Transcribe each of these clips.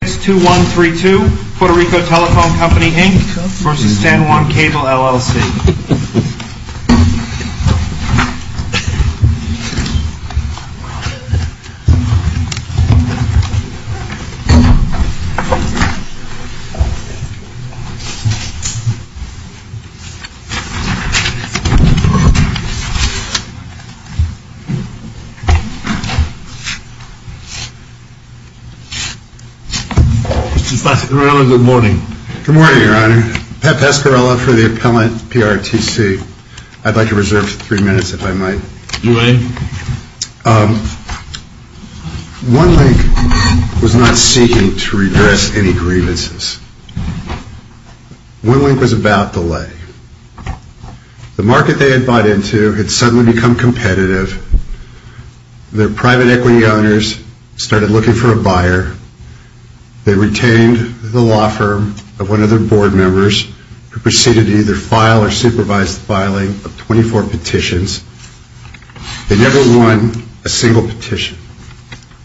2132 Puerto Rico Telephone Co., Inc. v. San Juan Cable LLC Mr. Pascarella, good morning. Good morning, Your Honor. Pat Pascarella for the Appellant PRTC. I'd like to reserve three minutes, if I might. You may. OneLink was not seeking to redress any grievances. OneLink was about delay. The market they had bought into had suddenly become competitive. Their private equity owners started looking for a buyer. They retained the law firm of one of their board members who proceeded to either file or supervise the filing of 24 petitions. They never won a single petition.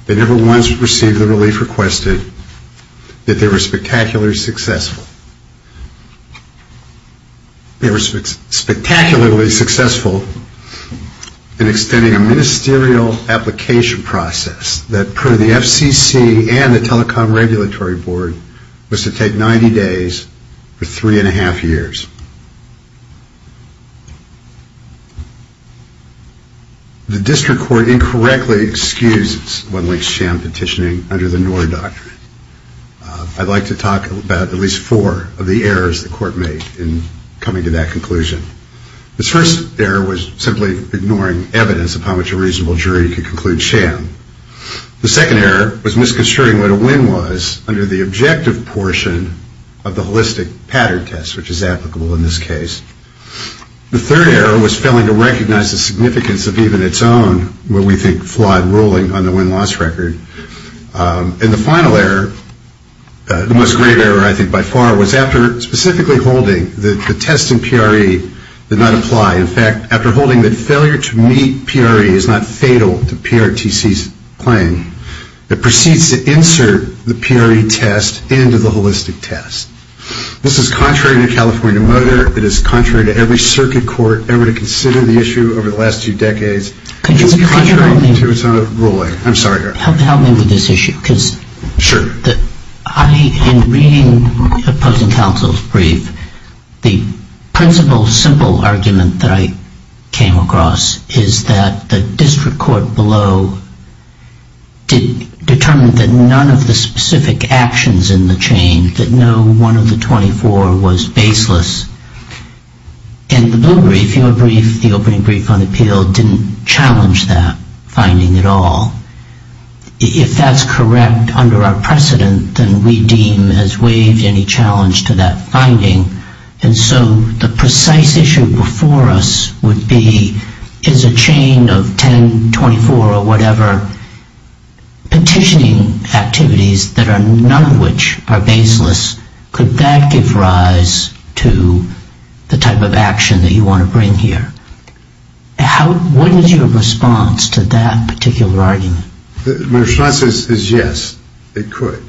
They never once received the relief requested. Yet they were spectacularly successful. OneLink was successful in extending a ministerial application process that per the FCC and the Telecom Regulatory Board was to take 90 days for three and a half years. The district court incorrectly excused OneLink's sham petitioning under the NORA doctrine. I'd like to talk about at least four of the errors the court made in coming to that conclusion. The first error was simply ignoring evidence of how much a reasonable jury could conclude sham. The second error was misconstruing what a win was under the objective portion of the holistic pattern test, which is applicable in this case. The third error was failing to recognize the significance of even its own, what we think flawed ruling on the win-loss record. And the final error, the most grave error I think by far, was after specifically holding that the test in PRE did not apply. In fact, after holding that failure to meet PRE is not fatal to PRTC's claim, it proceeds to insert the PRE test into the holistic test. This is contrary to California Motor. It is contrary to every circuit court ever to consider the issue over the last two decades. It's contrary to its own ruling. I'm sorry. Help me with this issue because in reading opposing counsel's brief, the principle simple argument that I came across is that the district court below determined that none of the specific actions in the chain, that no one of the 24 was baseless. In the blue brief, the opening brief on appeal, didn't challenge that finding at all. If that's correct under our precedent, then we deem as waived any challenge to that finding. And so the precise issue before us would be, is a chain of 10, 24, or whatever, petitioning activities that are none of which are baseless, could that give rise to the type of action that you want to bring here? What is your response to that particular argument? My response is yes, it could.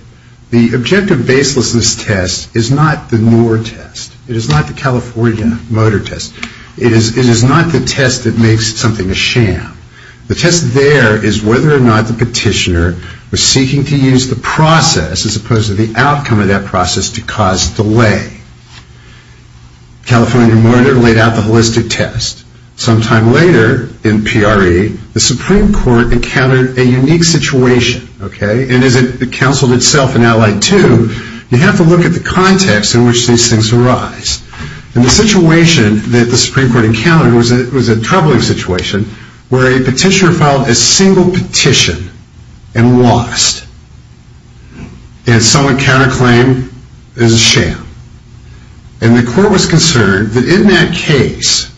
The objective baselessness test is not the NOR test. It is not the California Motor test. It is not the test that makes something a sham. The test there is whether or not the petitioner was seeking to use the process as opposed to the outcome of that process to cause delay. California Motor laid out the holistic test. Sometime later, in PRE, the Supreme Court encountered a unique situation. And as it counseled itself in Allied 2, you have to look at the context in which these things arise. And the situation that the Supreme Court encountered was a troubling situation, where a petitioner filed a single petition and lost. And someone counter-claimed it was a sham. And the court was concerned that in that case,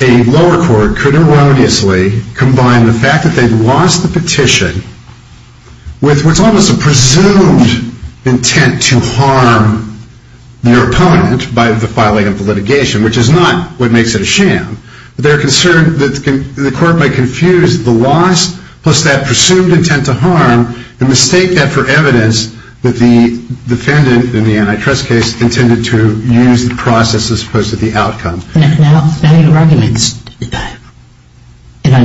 a lower court could erroneously combine the fact that they'd lost the petition with what's almost a presumed intent to harm their opponent by the filing of the litigation, which is not what makes it a sham. The court might confuse the loss plus that presumed intent to harm and mistake that for evidence that the defendant in the antitrust case intended to use the process as opposed to the outcome. Now your arguments, and I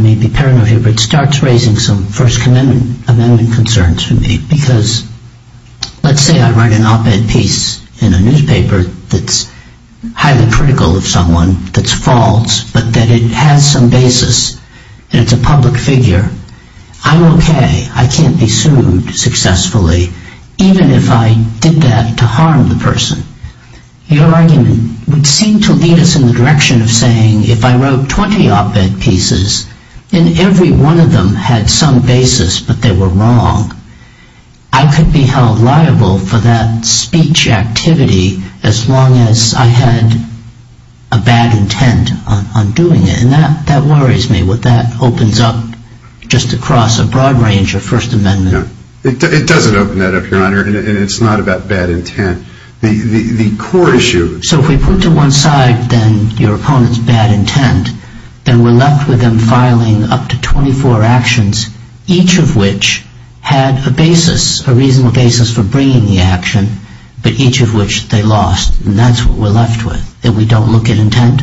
may be paranoid of you, but it starts raising some First Amendment concerns for me. Because let's say I write an op-ed piece in a newspaper that's highly critical of someone, that's false, but that it has some basis and it's a public figure. I'm okay. I can't be sued successfully, even if I did that to harm the person. Your argument would seem to lead us in the direction of saying if I wrote 20 op-ed pieces and every one of them had some basis but they were wrong, I could be held liable for that speech activity as long as I had a bad intent on doing it. And that worries me, what that opens up just across a broad range of First Amendment... It doesn't open that up, Your Honor, and it's not about bad intent. The court issue... So if we put to one side then your opponent's bad intent, then we're left with them filing up to 24 actions, each of which had a basis, a reasonable basis for bringing the action, but each of which they lost. And that's what we're left with, that we don't look at intent?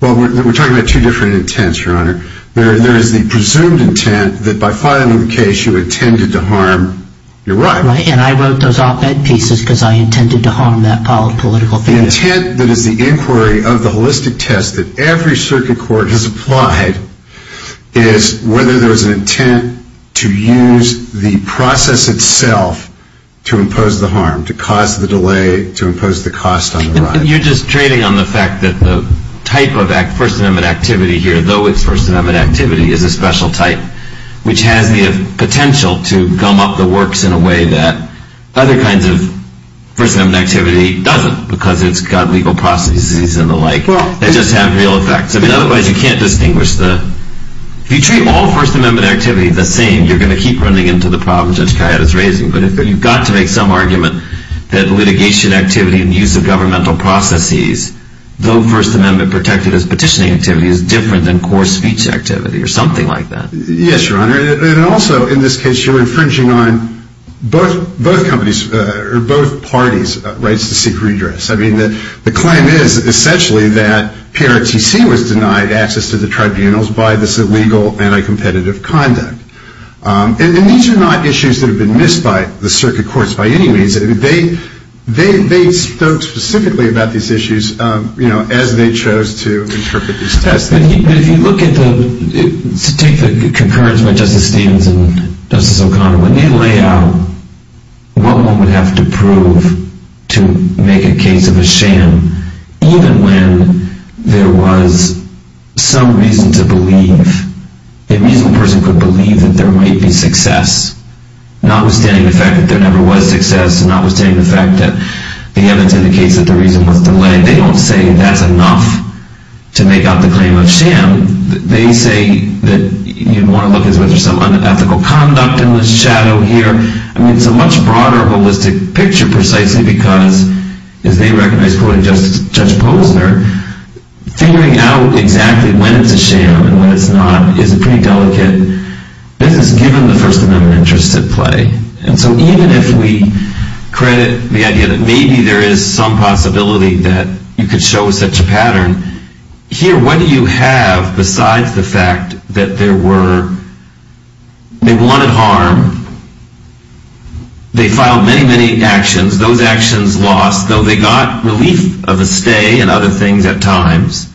Well, we're talking about two different intents, Your Honor. There is the presumed intent that by filing the case you intended to harm your right. Right, and I wrote those op-ed pieces because I intended to harm that political figure. The intent that is the inquiry of the holistic test that every circuit court has applied is whether there is an intent to use the process itself to impose the harm, to cause the delay, to impose the cost on the right. You're just trading on the fact that the type of First Amendment activity here, though it's First Amendment activity, is a special type, which has the potential to gum up the works in a way that other kinds of First Amendment activity doesn't because it's got legal processes and the like that just have real effects. I mean, otherwise you can't distinguish the – if you treat all First Amendment activity the same, you're going to keep running into the problems Judge Kayette is raising. But you've got to make some argument that litigation activity and use of governmental processes, though First Amendment protected as petitioning activity, is different than core speech activity or something like that. Yes, Your Honor. And also, in this case, you're infringing on both parties' rights to seek redress. I mean, the claim is essentially that PRTC was denied access to the tribunals by this illegal anti-competitive conduct. And these are not issues that have been missed by the circuit courts by any means. They spoke specifically about these issues as they chose to interpret these tests. But if you look at the – to take the concurrence by Justice Stevens and Justice O'Connor, when they lay out what one would have to prove to make a case of a sham, even when there was some reason to believe, a reasonable person could believe that there might be success, notwithstanding the fact that there never was success, notwithstanding the fact that the evidence indicates that the reason was delayed, they don't say that's enough to make out the claim of sham. They say that you'd want to look at whether there's some unethical conduct in this shadow here. I mean, it's a much broader holistic picture precisely because, as they recognize, quoting Judge Posner, figuring out exactly when it's a sham and when it's not is a pretty delicate business, given the First Amendment interests at play. And so even if we credit the idea that maybe there is some possibility that you could show such a pattern, here, what do you have besides the fact that there were – they wanted harm. They filed many, many actions. Those actions lost, though they got relief of a stay and other things at times.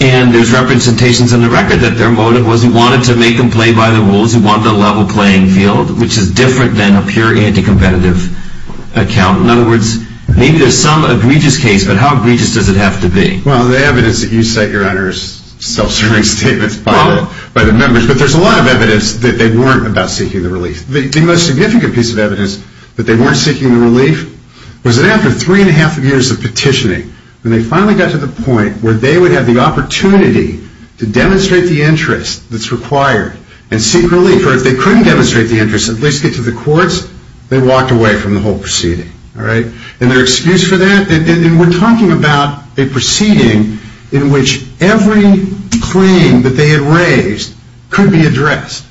And there's representations in the record that their motive was he wanted to make them play by the rules. He wanted a level playing field, which is different than a pure anti-competitive account. In other words, maybe there's some egregious case, but how egregious does it have to be? Well, the evidence that you cite, Your Honor, is self-serving statements by the members. But there's a lot of evidence that they weren't about seeking the relief. The most significant piece of evidence that they weren't seeking the relief was that after three and a half years of petitioning, when they finally got to the point where they would have the opportunity to demonstrate the interest that's required and seek relief, or if they couldn't demonstrate the interest, at least get to the courts, they walked away from the whole proceeding. And their excuse for that, and we're talking about a proceeding in which every claim that they had raised could be addressed.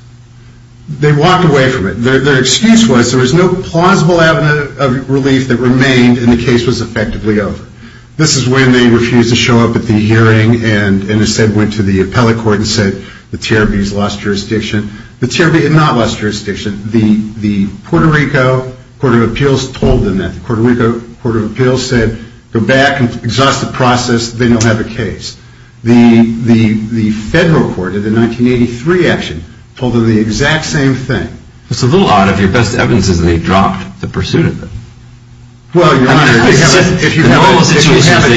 They walked away from it. Their excuse was there was no plausible avenue of relief that remained and the case was effectively over. This is when they refused to show up at the hearing and instead went to the appellate court and said the TRB has lost jurisdiction. The TRB had not lost jurisdiction. The Puerto Rico Court of Appeals told them that. The Puerto Rico Court of Appeals said go back and exhaust the process. Then you'll have a case. The federal court in the 1983 action told them the exact same thing. It's a little odd if your best evidence is that they dropped the pursuit of it. Well, Your Honor, if you have a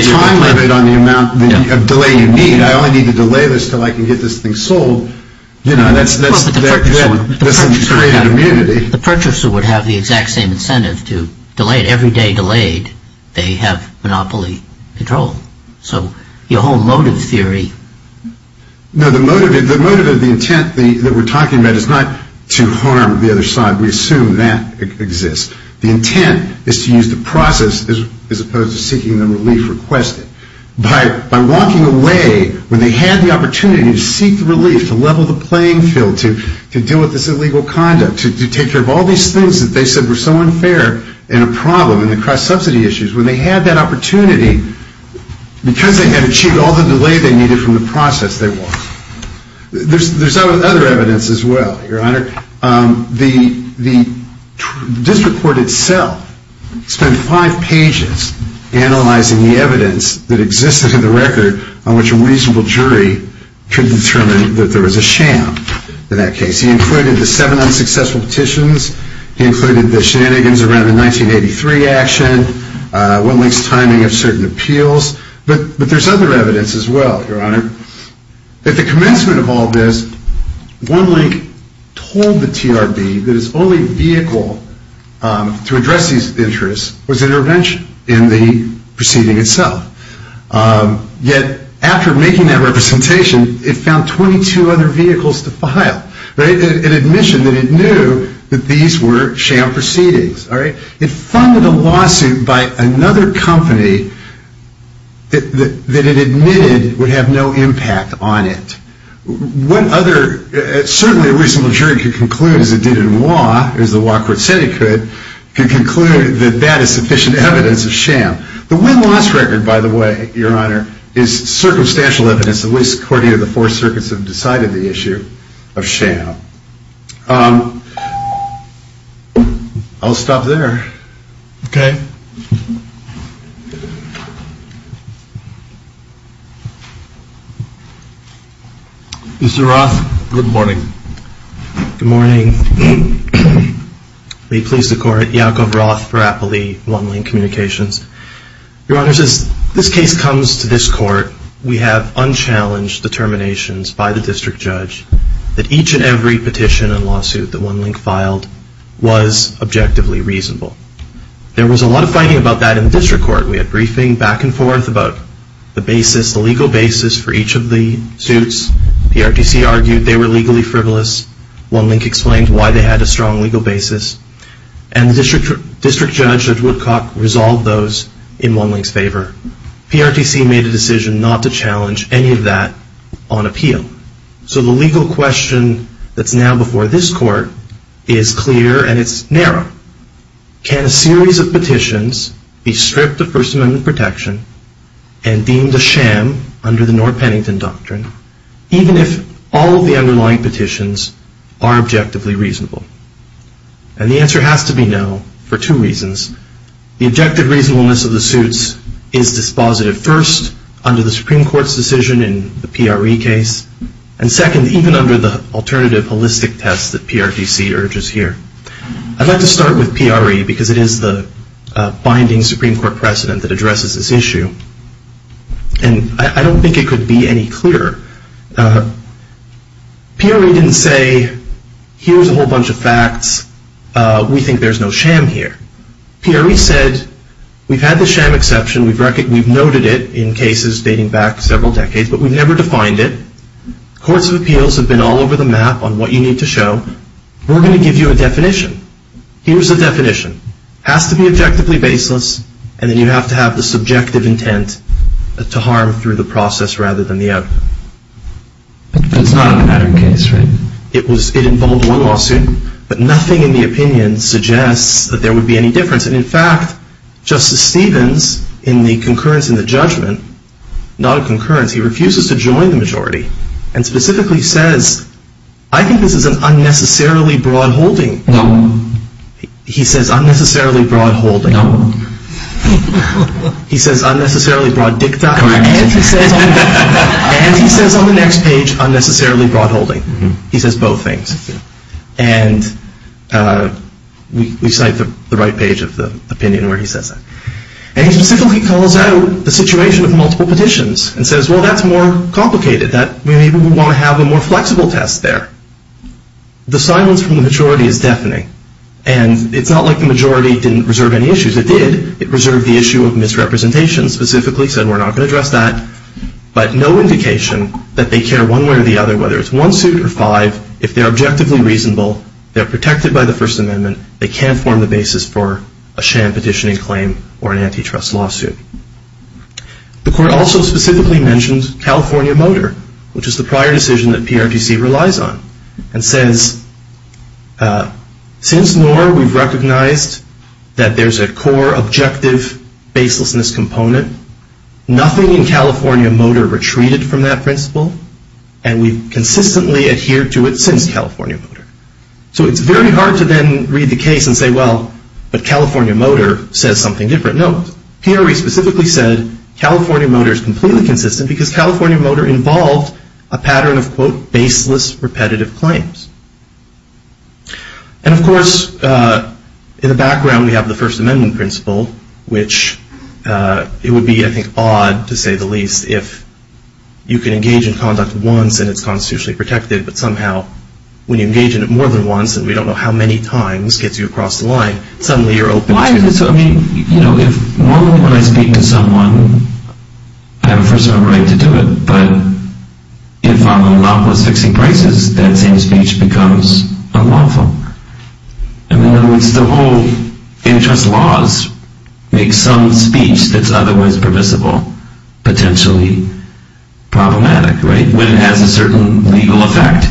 time limit on the amount of delay you need, I only need to delay this until I can get this thing sold. Well, but the purchaser would have the exact same incentive to delay it. Every day delayed, they have monopoly control. So your whole motive theory... No, the motive of the intent that we're talking about is not to harm the other side. We assume that exists. The intent is to use the process as opposed to seeking the relief requested. By walking away when they had the opportunity to seek the relief, to level the playing field, to deal with this illegal conduct, to take care of all these things that they said were so unfair and a problem in the cross-subsidy issues. When they had that opportunity, because they had achieved all the delay they needed from the process, they walked. There's other evidence as well, Your Honor. The district court itself spent five pages analyzing the evidence that existed in the record on which a reasonable jury could determine that there was a sham in that case. He included the seven unsuccessful petitions. He included the shenanigans around the 1983 action. One link's timing of certain appeals. But there's other evidence as well, Your Honor. At the commencement of all this, one link told the TRB that its only vehicle to address these interests was intervention in the proceeding itself. Yet after making that representation, it found 22 other vehicles to file. An admission that it knew that these were sham proceedings. It funded a lawsuit by another company that it admitted would have no impact on it. What other... Certainly a reasonable jury could conclude, as it did in law, as the law court said it could, could conclude that that is sufficient evidence of sham. The win-loss record, by the way, Your Honor, is circumstantial evidence, at least according to the four circuits that have decided the issue, of sham. I'll stop there. Okay? Mr. Roth, good morning. Good morning. May it please the court, Yaakov Roth for Appleby One Link Communications. Your Honor, since this case comes to this court, we have unchallenged determinations by the district judge that each and every petition and lawsuit that One Link filed was objectively reasonable. There was a lot of fighting about that in the district court. We had briefing back and forth about the basis, the legal basis for each of the suits. PRTC argued they were legally frivolous. One Link explained why they had a strong legal basis. And the district judge, Judge Woodcock, resolved those in One Link's favor. PRTC made a decision not to challenge any of that on appeal. So the legal question that's now before this court is clear and it's narrow. Can a series of petitions be stripped of First Amendment protection and deemed a sham under the Norr-Pennington Doctrine, even if all of the underlying petitions are objectively reasonable? And the answer has to be no for two reasons. The objective reasonableness of the suits is dispositive, first, under the Supreme Court's decision in the PRE case, and second, even under the alternative holistic test that PRTC urges here. I'd like to start with PRE, because it is the binding Supreme Court precedent that addresses this issue. And I don't think it could be any clearer. PRE didn't say, here's a whole bunch of facts. We think there's no sham here. PRE said, we've had the sham exception. We've noted it in cases dating back several decades, but we've never defined it. Courts of appeals have been all over the map on what you need to show. We're going to give you a definition. Here's the definition. It has to be objectively baseless, and then you have to have the subjective intent to harm through the process rather than the outcome. That's not a pattern case, right? It involved one lawsuit, but nothing in the opinion suggests that there would be any difference. And in fact, Justice Stevens, in the concurrence in the judgment, not a concurrence, he refuses to join the majority and specifically says, I think this is an unnecessarily broad holding. He says, unnecessarily broad holding. He says, unnecessarily broad dicta. And he says on the next page, unnecessarily broad holding. He says both things. And we cite the right page of the opinion where he says that. And he specifically calls out the situation of multiple petitions and says, well, that's more complicated. Maybe we want to have a more flexible test there. The silence from the majority is deafening, and it's not like the majority didn't reserve any issues. It did. It reserved the issue of misrepresentation specifically, said we're not going to address that, but no indication that they care one way or the other, whether it's one suit or five, if they're objectively reasonable, they're protected by the First Amendment, they can't form the basis for a sham petitioning claim or an antitrust lawsuit. The court also specifically mentions California Motor, which is the prior decision that PRTC relies on, and says, since NORA, we've recognized that there's a core objective baselessness component. Nothing in California Motor retreated from that principle, and we've consistently adhered to it since California Motor. So it's very hard to then read the case and say, well, but California Motor says something different. No, PRT specifically said California Motor is completely consistent because California Motor involved a pattern of, quote, baseless repetitive claims. And, of course, in the background, we have the First Amendment principle, which it would be, I think, odd, to say the least, if you can engage in conduct once and it's constitutionally protected, but somehow when you engage in it more than once and we don't know how many times gets you across the line, suddenly you're open to it. Normally when I speak to someone, I have a First Amendment right to do it, but if I'm unlawful as fixing prices, that same speech becomes unlawful. In other words, the whole interest laws make some speech that's otherwise permissible potentially problematic, right? When it has a certain legal effect.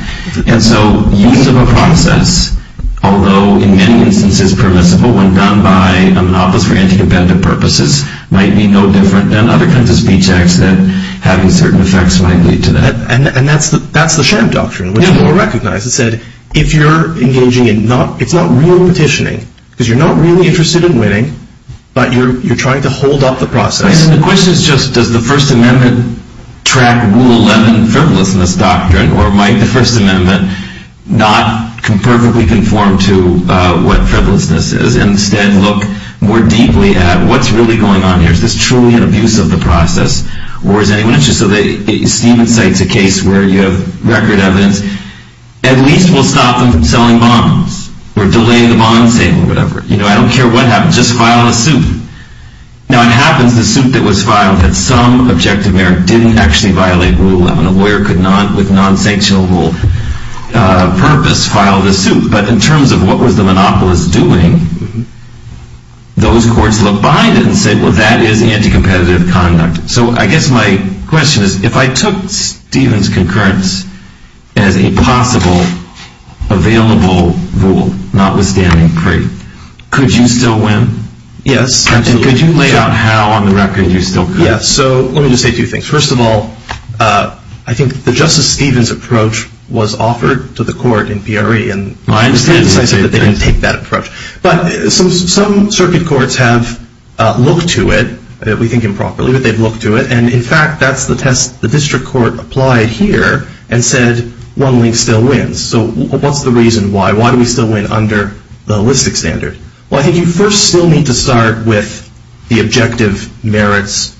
And so use of a process, although in many instances permissible when done by a monopolist for anti-competitive purposes, might be no different than other kinds of speech acts that having certain effects might lead to that. And that's the sham doctrine, which we'll recognize. It said if you're engaging in, it's not real petitioning, because you're not really interested in winning, but you're trying to hold up the process. The question is just does the First Amendment track Rule 11 frivolousness doctrine or might the First Amendment not perfectly conform to what frivolousness is and instead look more deeply at what's really going on here. Is this truly an abuse of the process? Or is anyone interested? So Stephen cites a case where you have record evidence. At least we'll stop them from selling bombs or delaying the bond sale or whatever. I don't care what happens, just file a suit. Now, it happens the suit that was filed that some objective merit didn't actually violate Rule 11. A lawyer could not, with non-sanctionable purpose, file the suit. But in terms of what was the monopolist doing, those courts looked behind it and said, well, that is anti-competitive conduct. So I guess my question is, if I took Stephen's concurrence as a possible available rule, could you still win? Yes. And could you lay out how on the record you still could? Yes. So let me just say two things. First of all, I think that Justice Stephen's approach was offered to the court in Peoria and they said that they didn't take that approach. But some circuit courts have looked to it. We think improperly, but they've looked to it. And in fact, that's the test the district court applied here and said one link still wins. So what's the reason why? Why do we still win under the holistic standard? Well, I think you first still need to start with the objective merits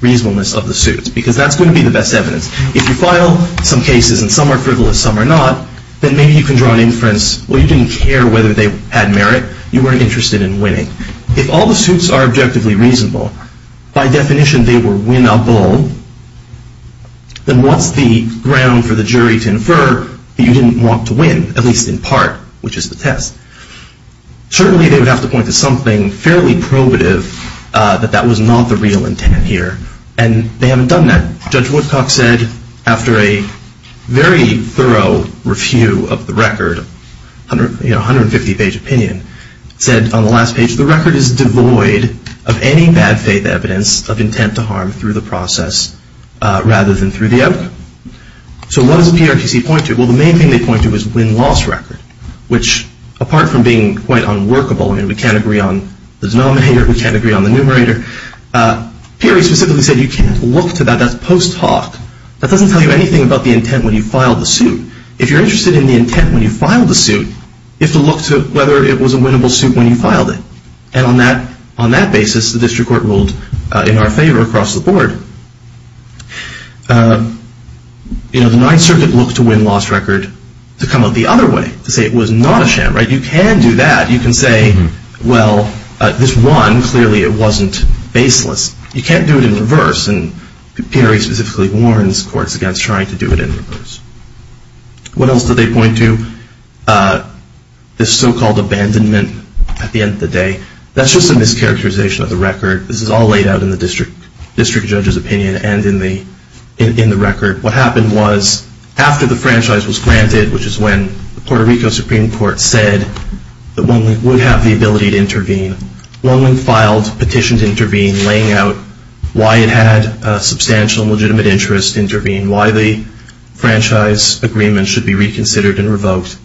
reasonableness of the suits because that's going to be the best evidence. If you file some cases and some are frivolous, some are not, then maybe you can draw an inference, well, you didn't care whether they had merit. You weren't interested in winning. If all the suits are objectively reasonable, by definition they were winnable, then what's the ground for the jury to infer that you didn't want to win, at least in part, which is the test? Certainly they would have to point to something fairly probative that that was not the real intent here and they haven't done that. Judge Woodcock said after a very thorough review of the record, 150-page opinion, said on the last page, the record is devoid of any bad faith evidence of intent to harm through the process rather than through the outcome. So what does the PRTC point to? Well, the main thing they point to is win-loss record, which apart from being quite unworkable, I mean, we can't agree on the denominator, we can't agree on the numerator, Perry specifically said you can't look to that, that's post hoc. That doesn't tell you anything about the intent when you filed the suit. If you're interested in the intent when you filed the suit, you have to look to whether it was a winnable suit when you filed it. And on that basis, the district court ruled in our favor across the board. You know, the Ninth Circuit looked to win-loss record to come out the other way, to say it was not a sham, right? You can do that. You can say, well, this won, clearly it wasn't baseless. You can't do it in reverse, and Perry specifically warns courts against trying to do it in reverse. What else do they point to? This so-called abandonment at the end of the day. That's just a mischaracterization of the record. This is all laid out in the district judge's opinion. And in the record, what happened was, after the franchise was granted, which is when the Puerto Rico Supreme Court said that OneLink would have the ability to intervene, OneLink filed a petition to intervene, laying out why it had a substantial and legitimate interest to intervene, why the franchise agreement should be reconsidered and revoked.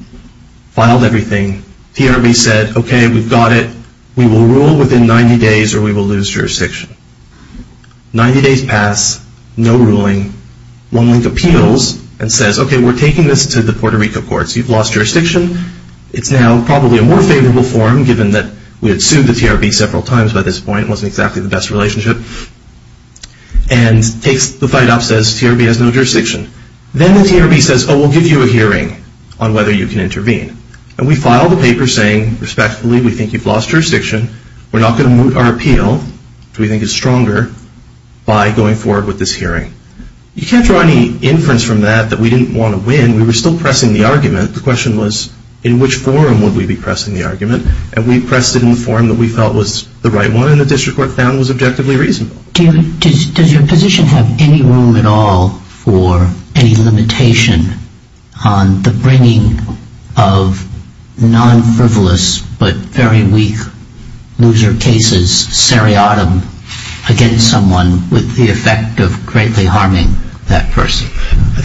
Filed everything. TRB said, okay, we've got it. We will rule within 90 days or we will lose jurisdiction. Ninety days pass, no ruling. OneLink appeals and says, okay, we're taking this to the Puerto Rico courts. You've lost jurisdiction. It's now probably a more favorable form, given that we had sued the TRB several times by this point. It wasn't exactly the best relationship. And takes the fight off, says TRB has no jurisdiction. Then the TRB says, oh, we'll give you a hearing on whether you can intervene. And we file the paper saying, respectfully, we think you've lost jurisdiction. We're not going to moot our appeal, which we think is stronger, by going forward with this hearing. You can't draw any inference from that that we didn't want to win. We were still pressing the argument. The question was, in which forum would we be pressing the argument? And we pressed it in the forum that we felt was the right one, and the district court found was objectively reasonable. Does your position have any room at all for any limitation on the bringing of non-frivolous but very weak loser cases seriatim against someone with the effect of greatly harming that person?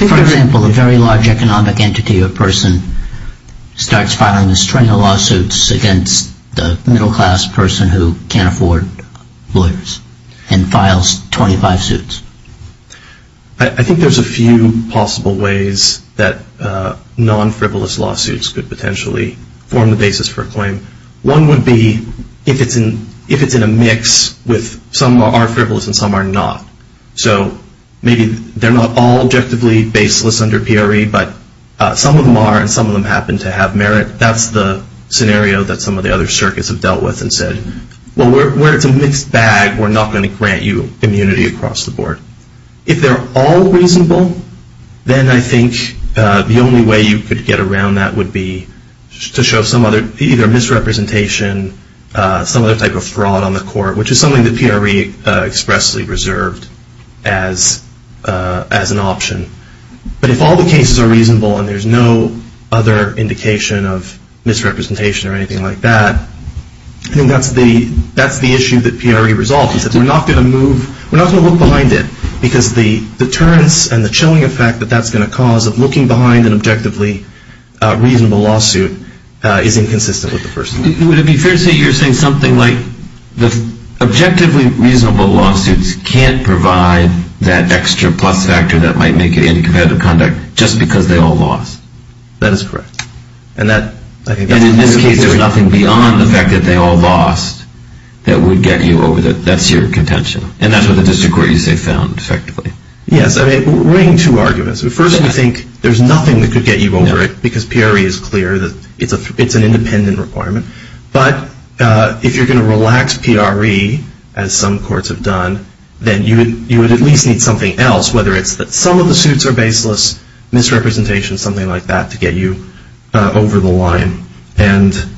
For example, a very large economic entity or person starts filing a string of lawsuits against a middle class person who can't afford lawyers and files 25 suits. I think there's a few possible ways that non-frivolous lawsuits could potentially form the basis for a claim. One would be if it's in a mix with some are frivolous and some are not. So maybe they're not all objectively baseless under PRE, but some of them are and some of them happen to have merit. That's the scenario that some of the other circuits have dealt with and said, well, where it's a mixed bag, we're not going to grant you immunity across the board. If they're all reasonable, then I think the only way you could get around that would be to show either misrepresentation, some other type of fraud on the court, which is something that PRE expressly reserved as an option. But if all the cases are reasonable and there's no other indication of misrepresentation or anything like that, then that's the issue that PRE resolves. We're not going to look behind it because the deterrence and the chilling effect that that's going to cause of looking behind an objectively reasonable lawsuit is inconsistent with the first one. Would it be fair to say you're saying something like the objectively reasonable lawsuits can't provide that extra plus factor that might make it anti-competitive conduct just because they all lost? That is correct. And in this case, there's nothing beyond the fact that they all lost that would get you over that. That's your contention. And that's what the district court you say found effectively. Yes. I mean, we're weighing two arguments. First, we think there's nothing that could get you over it because PRE is clear that it's an independent requirement. But if you're going to relax PRE, as some courts have done, then you would at least need something else, whether it's that some of the suits are baseless, misrepresentation, something like that, to get you over the line. And the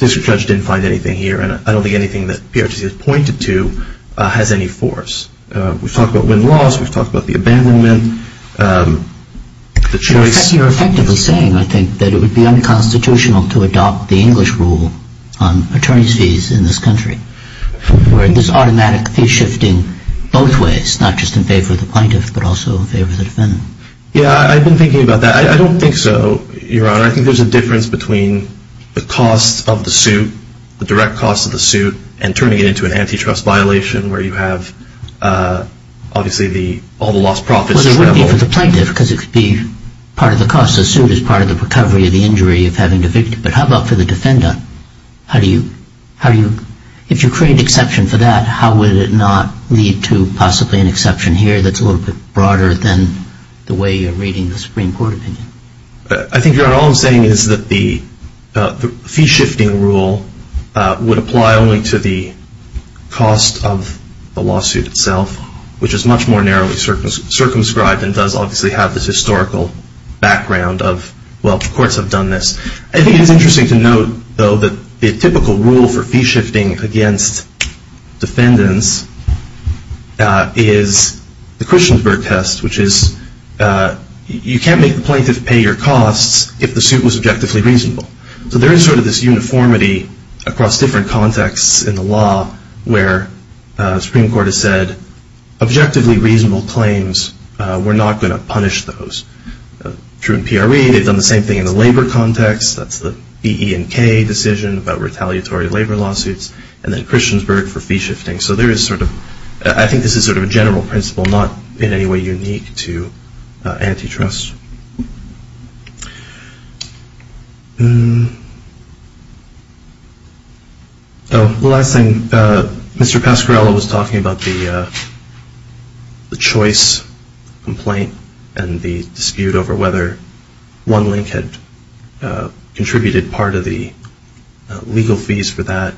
district judge didn't find anything here, and I don't think anything that PRTC has pointed to has any force. We've talked about win-loss. We've talked about the abandonment. You're effectively saying, I think, that it would be unconstitutional to adopt the English rule on attorney's fees in this country, where there's automatic fee shifting both ways, not just in favor of the plaintiff but also in favor of the defendant. Yeah, I've been thinking about that. I don't think so, Your Honor. I think there's a difference between the costs of the suit, the direct costs of the suit, and turning it into an antitrust violation, where you have, obviously, all the lost profits. But it would be for the plaintiff, because it could be part of the cost of the suit as part of the recovery of the injury of having the victim. But how about for the defendant? If you create an exception for that, how would it not lead to possibly an exception here that's a little bit broader than the way you're reading the Supreme Court opinion? I think, Your Honor, all I'm saying is that the fee-shifting rule would apply only to the cost of the lawsuit itself, which is much more narrowly circumscribed and does obviously have this historical background of, well, courts have done this. I think it's interesting to note, though, that the typical rule for fee-shifting against defendants is the Christiansburg test, which is you can't make the plaintiff pay your costs if the suit was objectively reasonable. So there is sort of this uniformity across different contexts in the law where the Supreme Court has said objectively reasonable claims, we're not going to punish those. True in PRE, they've done the same thing in the labor context. That's the E, E, and K decision about retaliatory labor lawsuits, and then Christiansburg for fee-shifting. So there is sort of, I think this is sort of a general principle, not in any way unique to antitrust. The last thing, Mr. Pasquarello was talking about the choice complaint and the dispute over whether OneLink had contributed part of the legal fees for that.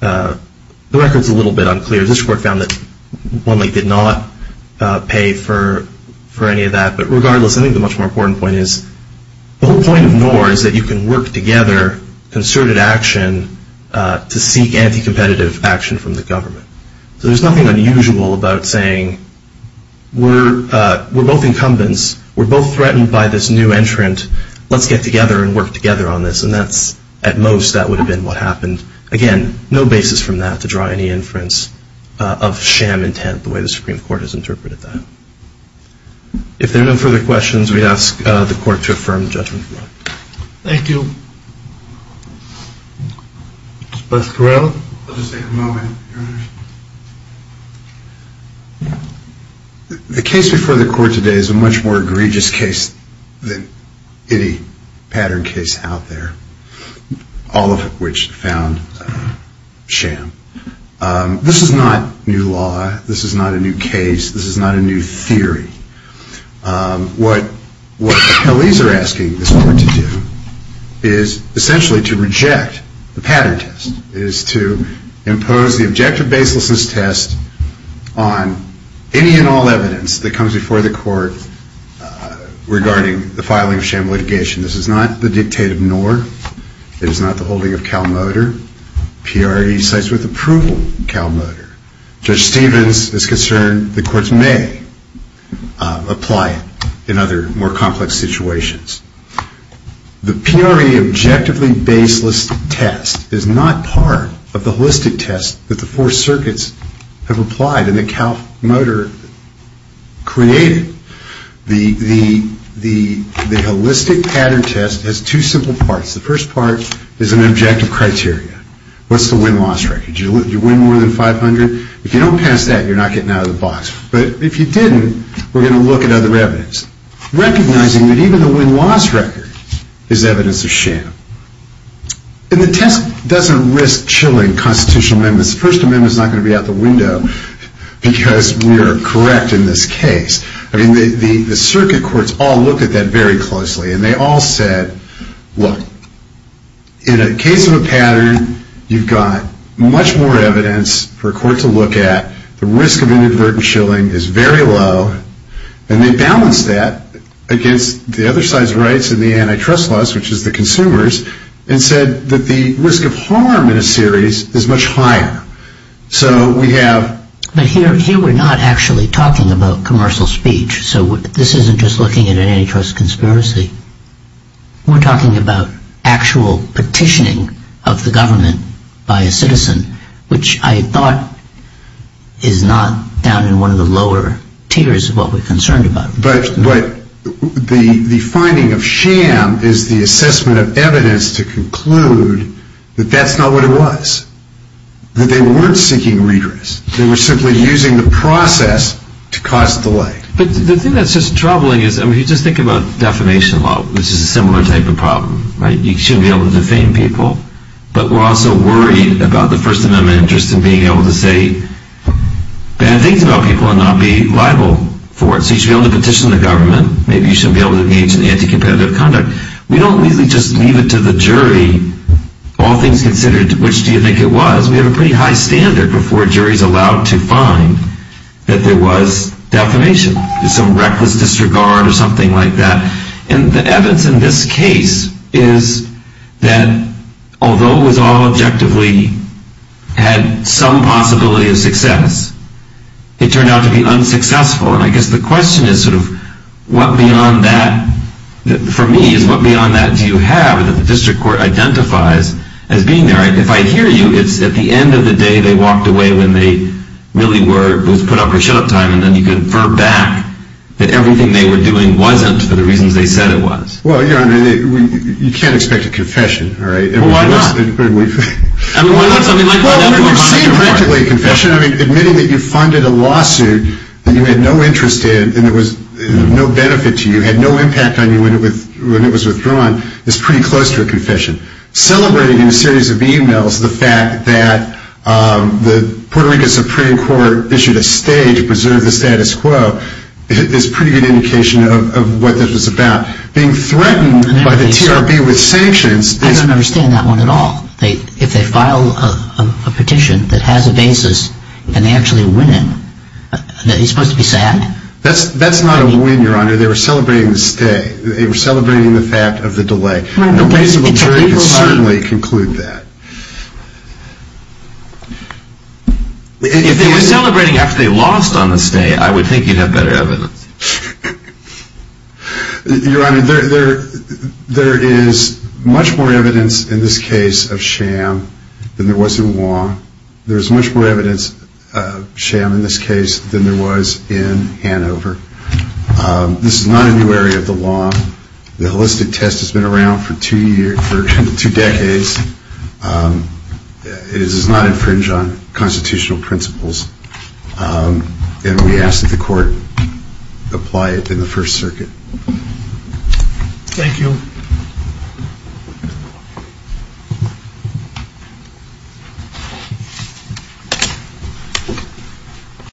The record is a little bit unclear. This court found that OneLink did not pay for any of that, but regardless, I think the much more important point is the whole point of NOR is that you can work together concerted action to seek anti-competitive action from the government. So there's nothing unusual about saying we're both incumbents, we're both threatened by this new entrant, let's get together and work together on this, and at most that would have been what happened. Again, no basis from that to draw any inference of sham intent, the way the Supreme Court has interpreted that. If there are no further questions, we ask the court to affirm judgment. Thank you. Mr. Pasquarello? I'll just take a moment, Your Honor. The case before the court today is a much more egregious case than any pattern case out there, all of which found sham. This is not new law. This is not a new case. This is not a new theory. What the police are asking the court to do is essentially to reject the pattern test, is to impose the objective baselessness test on any and all evidence that comes before the court regarding the filing of sham litigation. This is not the dictate of NOR. It is not the holding of CalMotor. PRE cites with approval CalMotor. Judge Stevens is concerned the courts may apply it in other more complex situations. The PRE objectively baseless test is not part of the holistic test that the four circuits have applied and that CalMotor created. The holistic pattern test has two simple parts. The first part is an objective criteria. What's the win-loss record? Did you win more than 500? If you don't pass that, you're not getting out of the box. But if you didn't, we're going to look at other evidence. Recognizing that even the win-loss record is evidence of sham. And the test doesn't risk chilling constitutional amendments. The First Amendment is not going to be out the window because we are correct in this case. I mean, the circuit courts all looked at that very closely, and they all said, Look, in a case of a pattern, you've got much more evidence for a court to look at. The risk of inadvertent chilling is very low. And they balanced that against the other side's rights and the antitrust laws, which is the consumers, and said that the risk of harm in a series is much higher. So we have... But here we're not actually talking about commercial speech. So this isn't just looking at an antitrust conspiracy. We're talking about actual petitioning of the government by a citizen, which I thought is not down in one of the lower tiers of what we're concerned about. But the finding of sham is the assessment of evidence to conclude that that's not what it was. That they weren't seeking redress. They were simply using the process to cause delight. But the thing that's just troubling is, I mean, you just think about defamation law, which is a similar type of problem, right? You shouldn't be able to defame people. But we're also worried about the First Amendment interest in being able to say bad things about people and not be liable for it. So you should be able to petition the government. Maybe you shouldn't be able to engage in anti-competitive conduct. We don't really just leave it to the jury, all things considered, which do you think it was. Because we have a pretty high standard before a jury is allowed to find that there was defamation. Some reckless disregard or something like that. And the evidence in this case is that although it was all objectively had some possibility of success, it turned out to be unsuccessful. And I guess the question is sort of what beyond that, for me, is what beyond that do you have that the district court identifies as being there? If I hear you, it's at the end of the day they walked away when they really were put up for shut-up time and then you confer back that everything they were doing wasn't for the reasons they said it was. Well, Your Honor, you can't expect a confession, all right? Well, why not? I mean, why not? Well, you've seen practically a confession. I mean, admitting that you funded a lawsuit that you had no interest in and there was no benefit to you, had no impact on you when it was withdrawn, is pretty close to a confession. Celebrating in a series of e-mails the fact that the Puerto Rico Supreme Court issued a stay to preserve the status quo is a pretty good indication of what this was about. Being threatened by the TRB with sanctions... I don't understand that one at all. If they file a petition that has a basis and they actually win it, is that supposed to be sad? That's not a win, Your Honor. They were celebrating the stay. They were celebrating the fact of the delay. A reasonable jury could certainly conclude that. If they were celebrating after they lost on the stay, I would think you'd have better evidence. Your Honor, there is much more evidence in this case of sham than there was in Wong. There is much more evidence of sham in this case than there was in Hanover. This is not a new area of the law. The holistic test has been around for two decades. It does not infringe on constitutional principles. And we ask that the court apply it in the First Circuit. Thank you.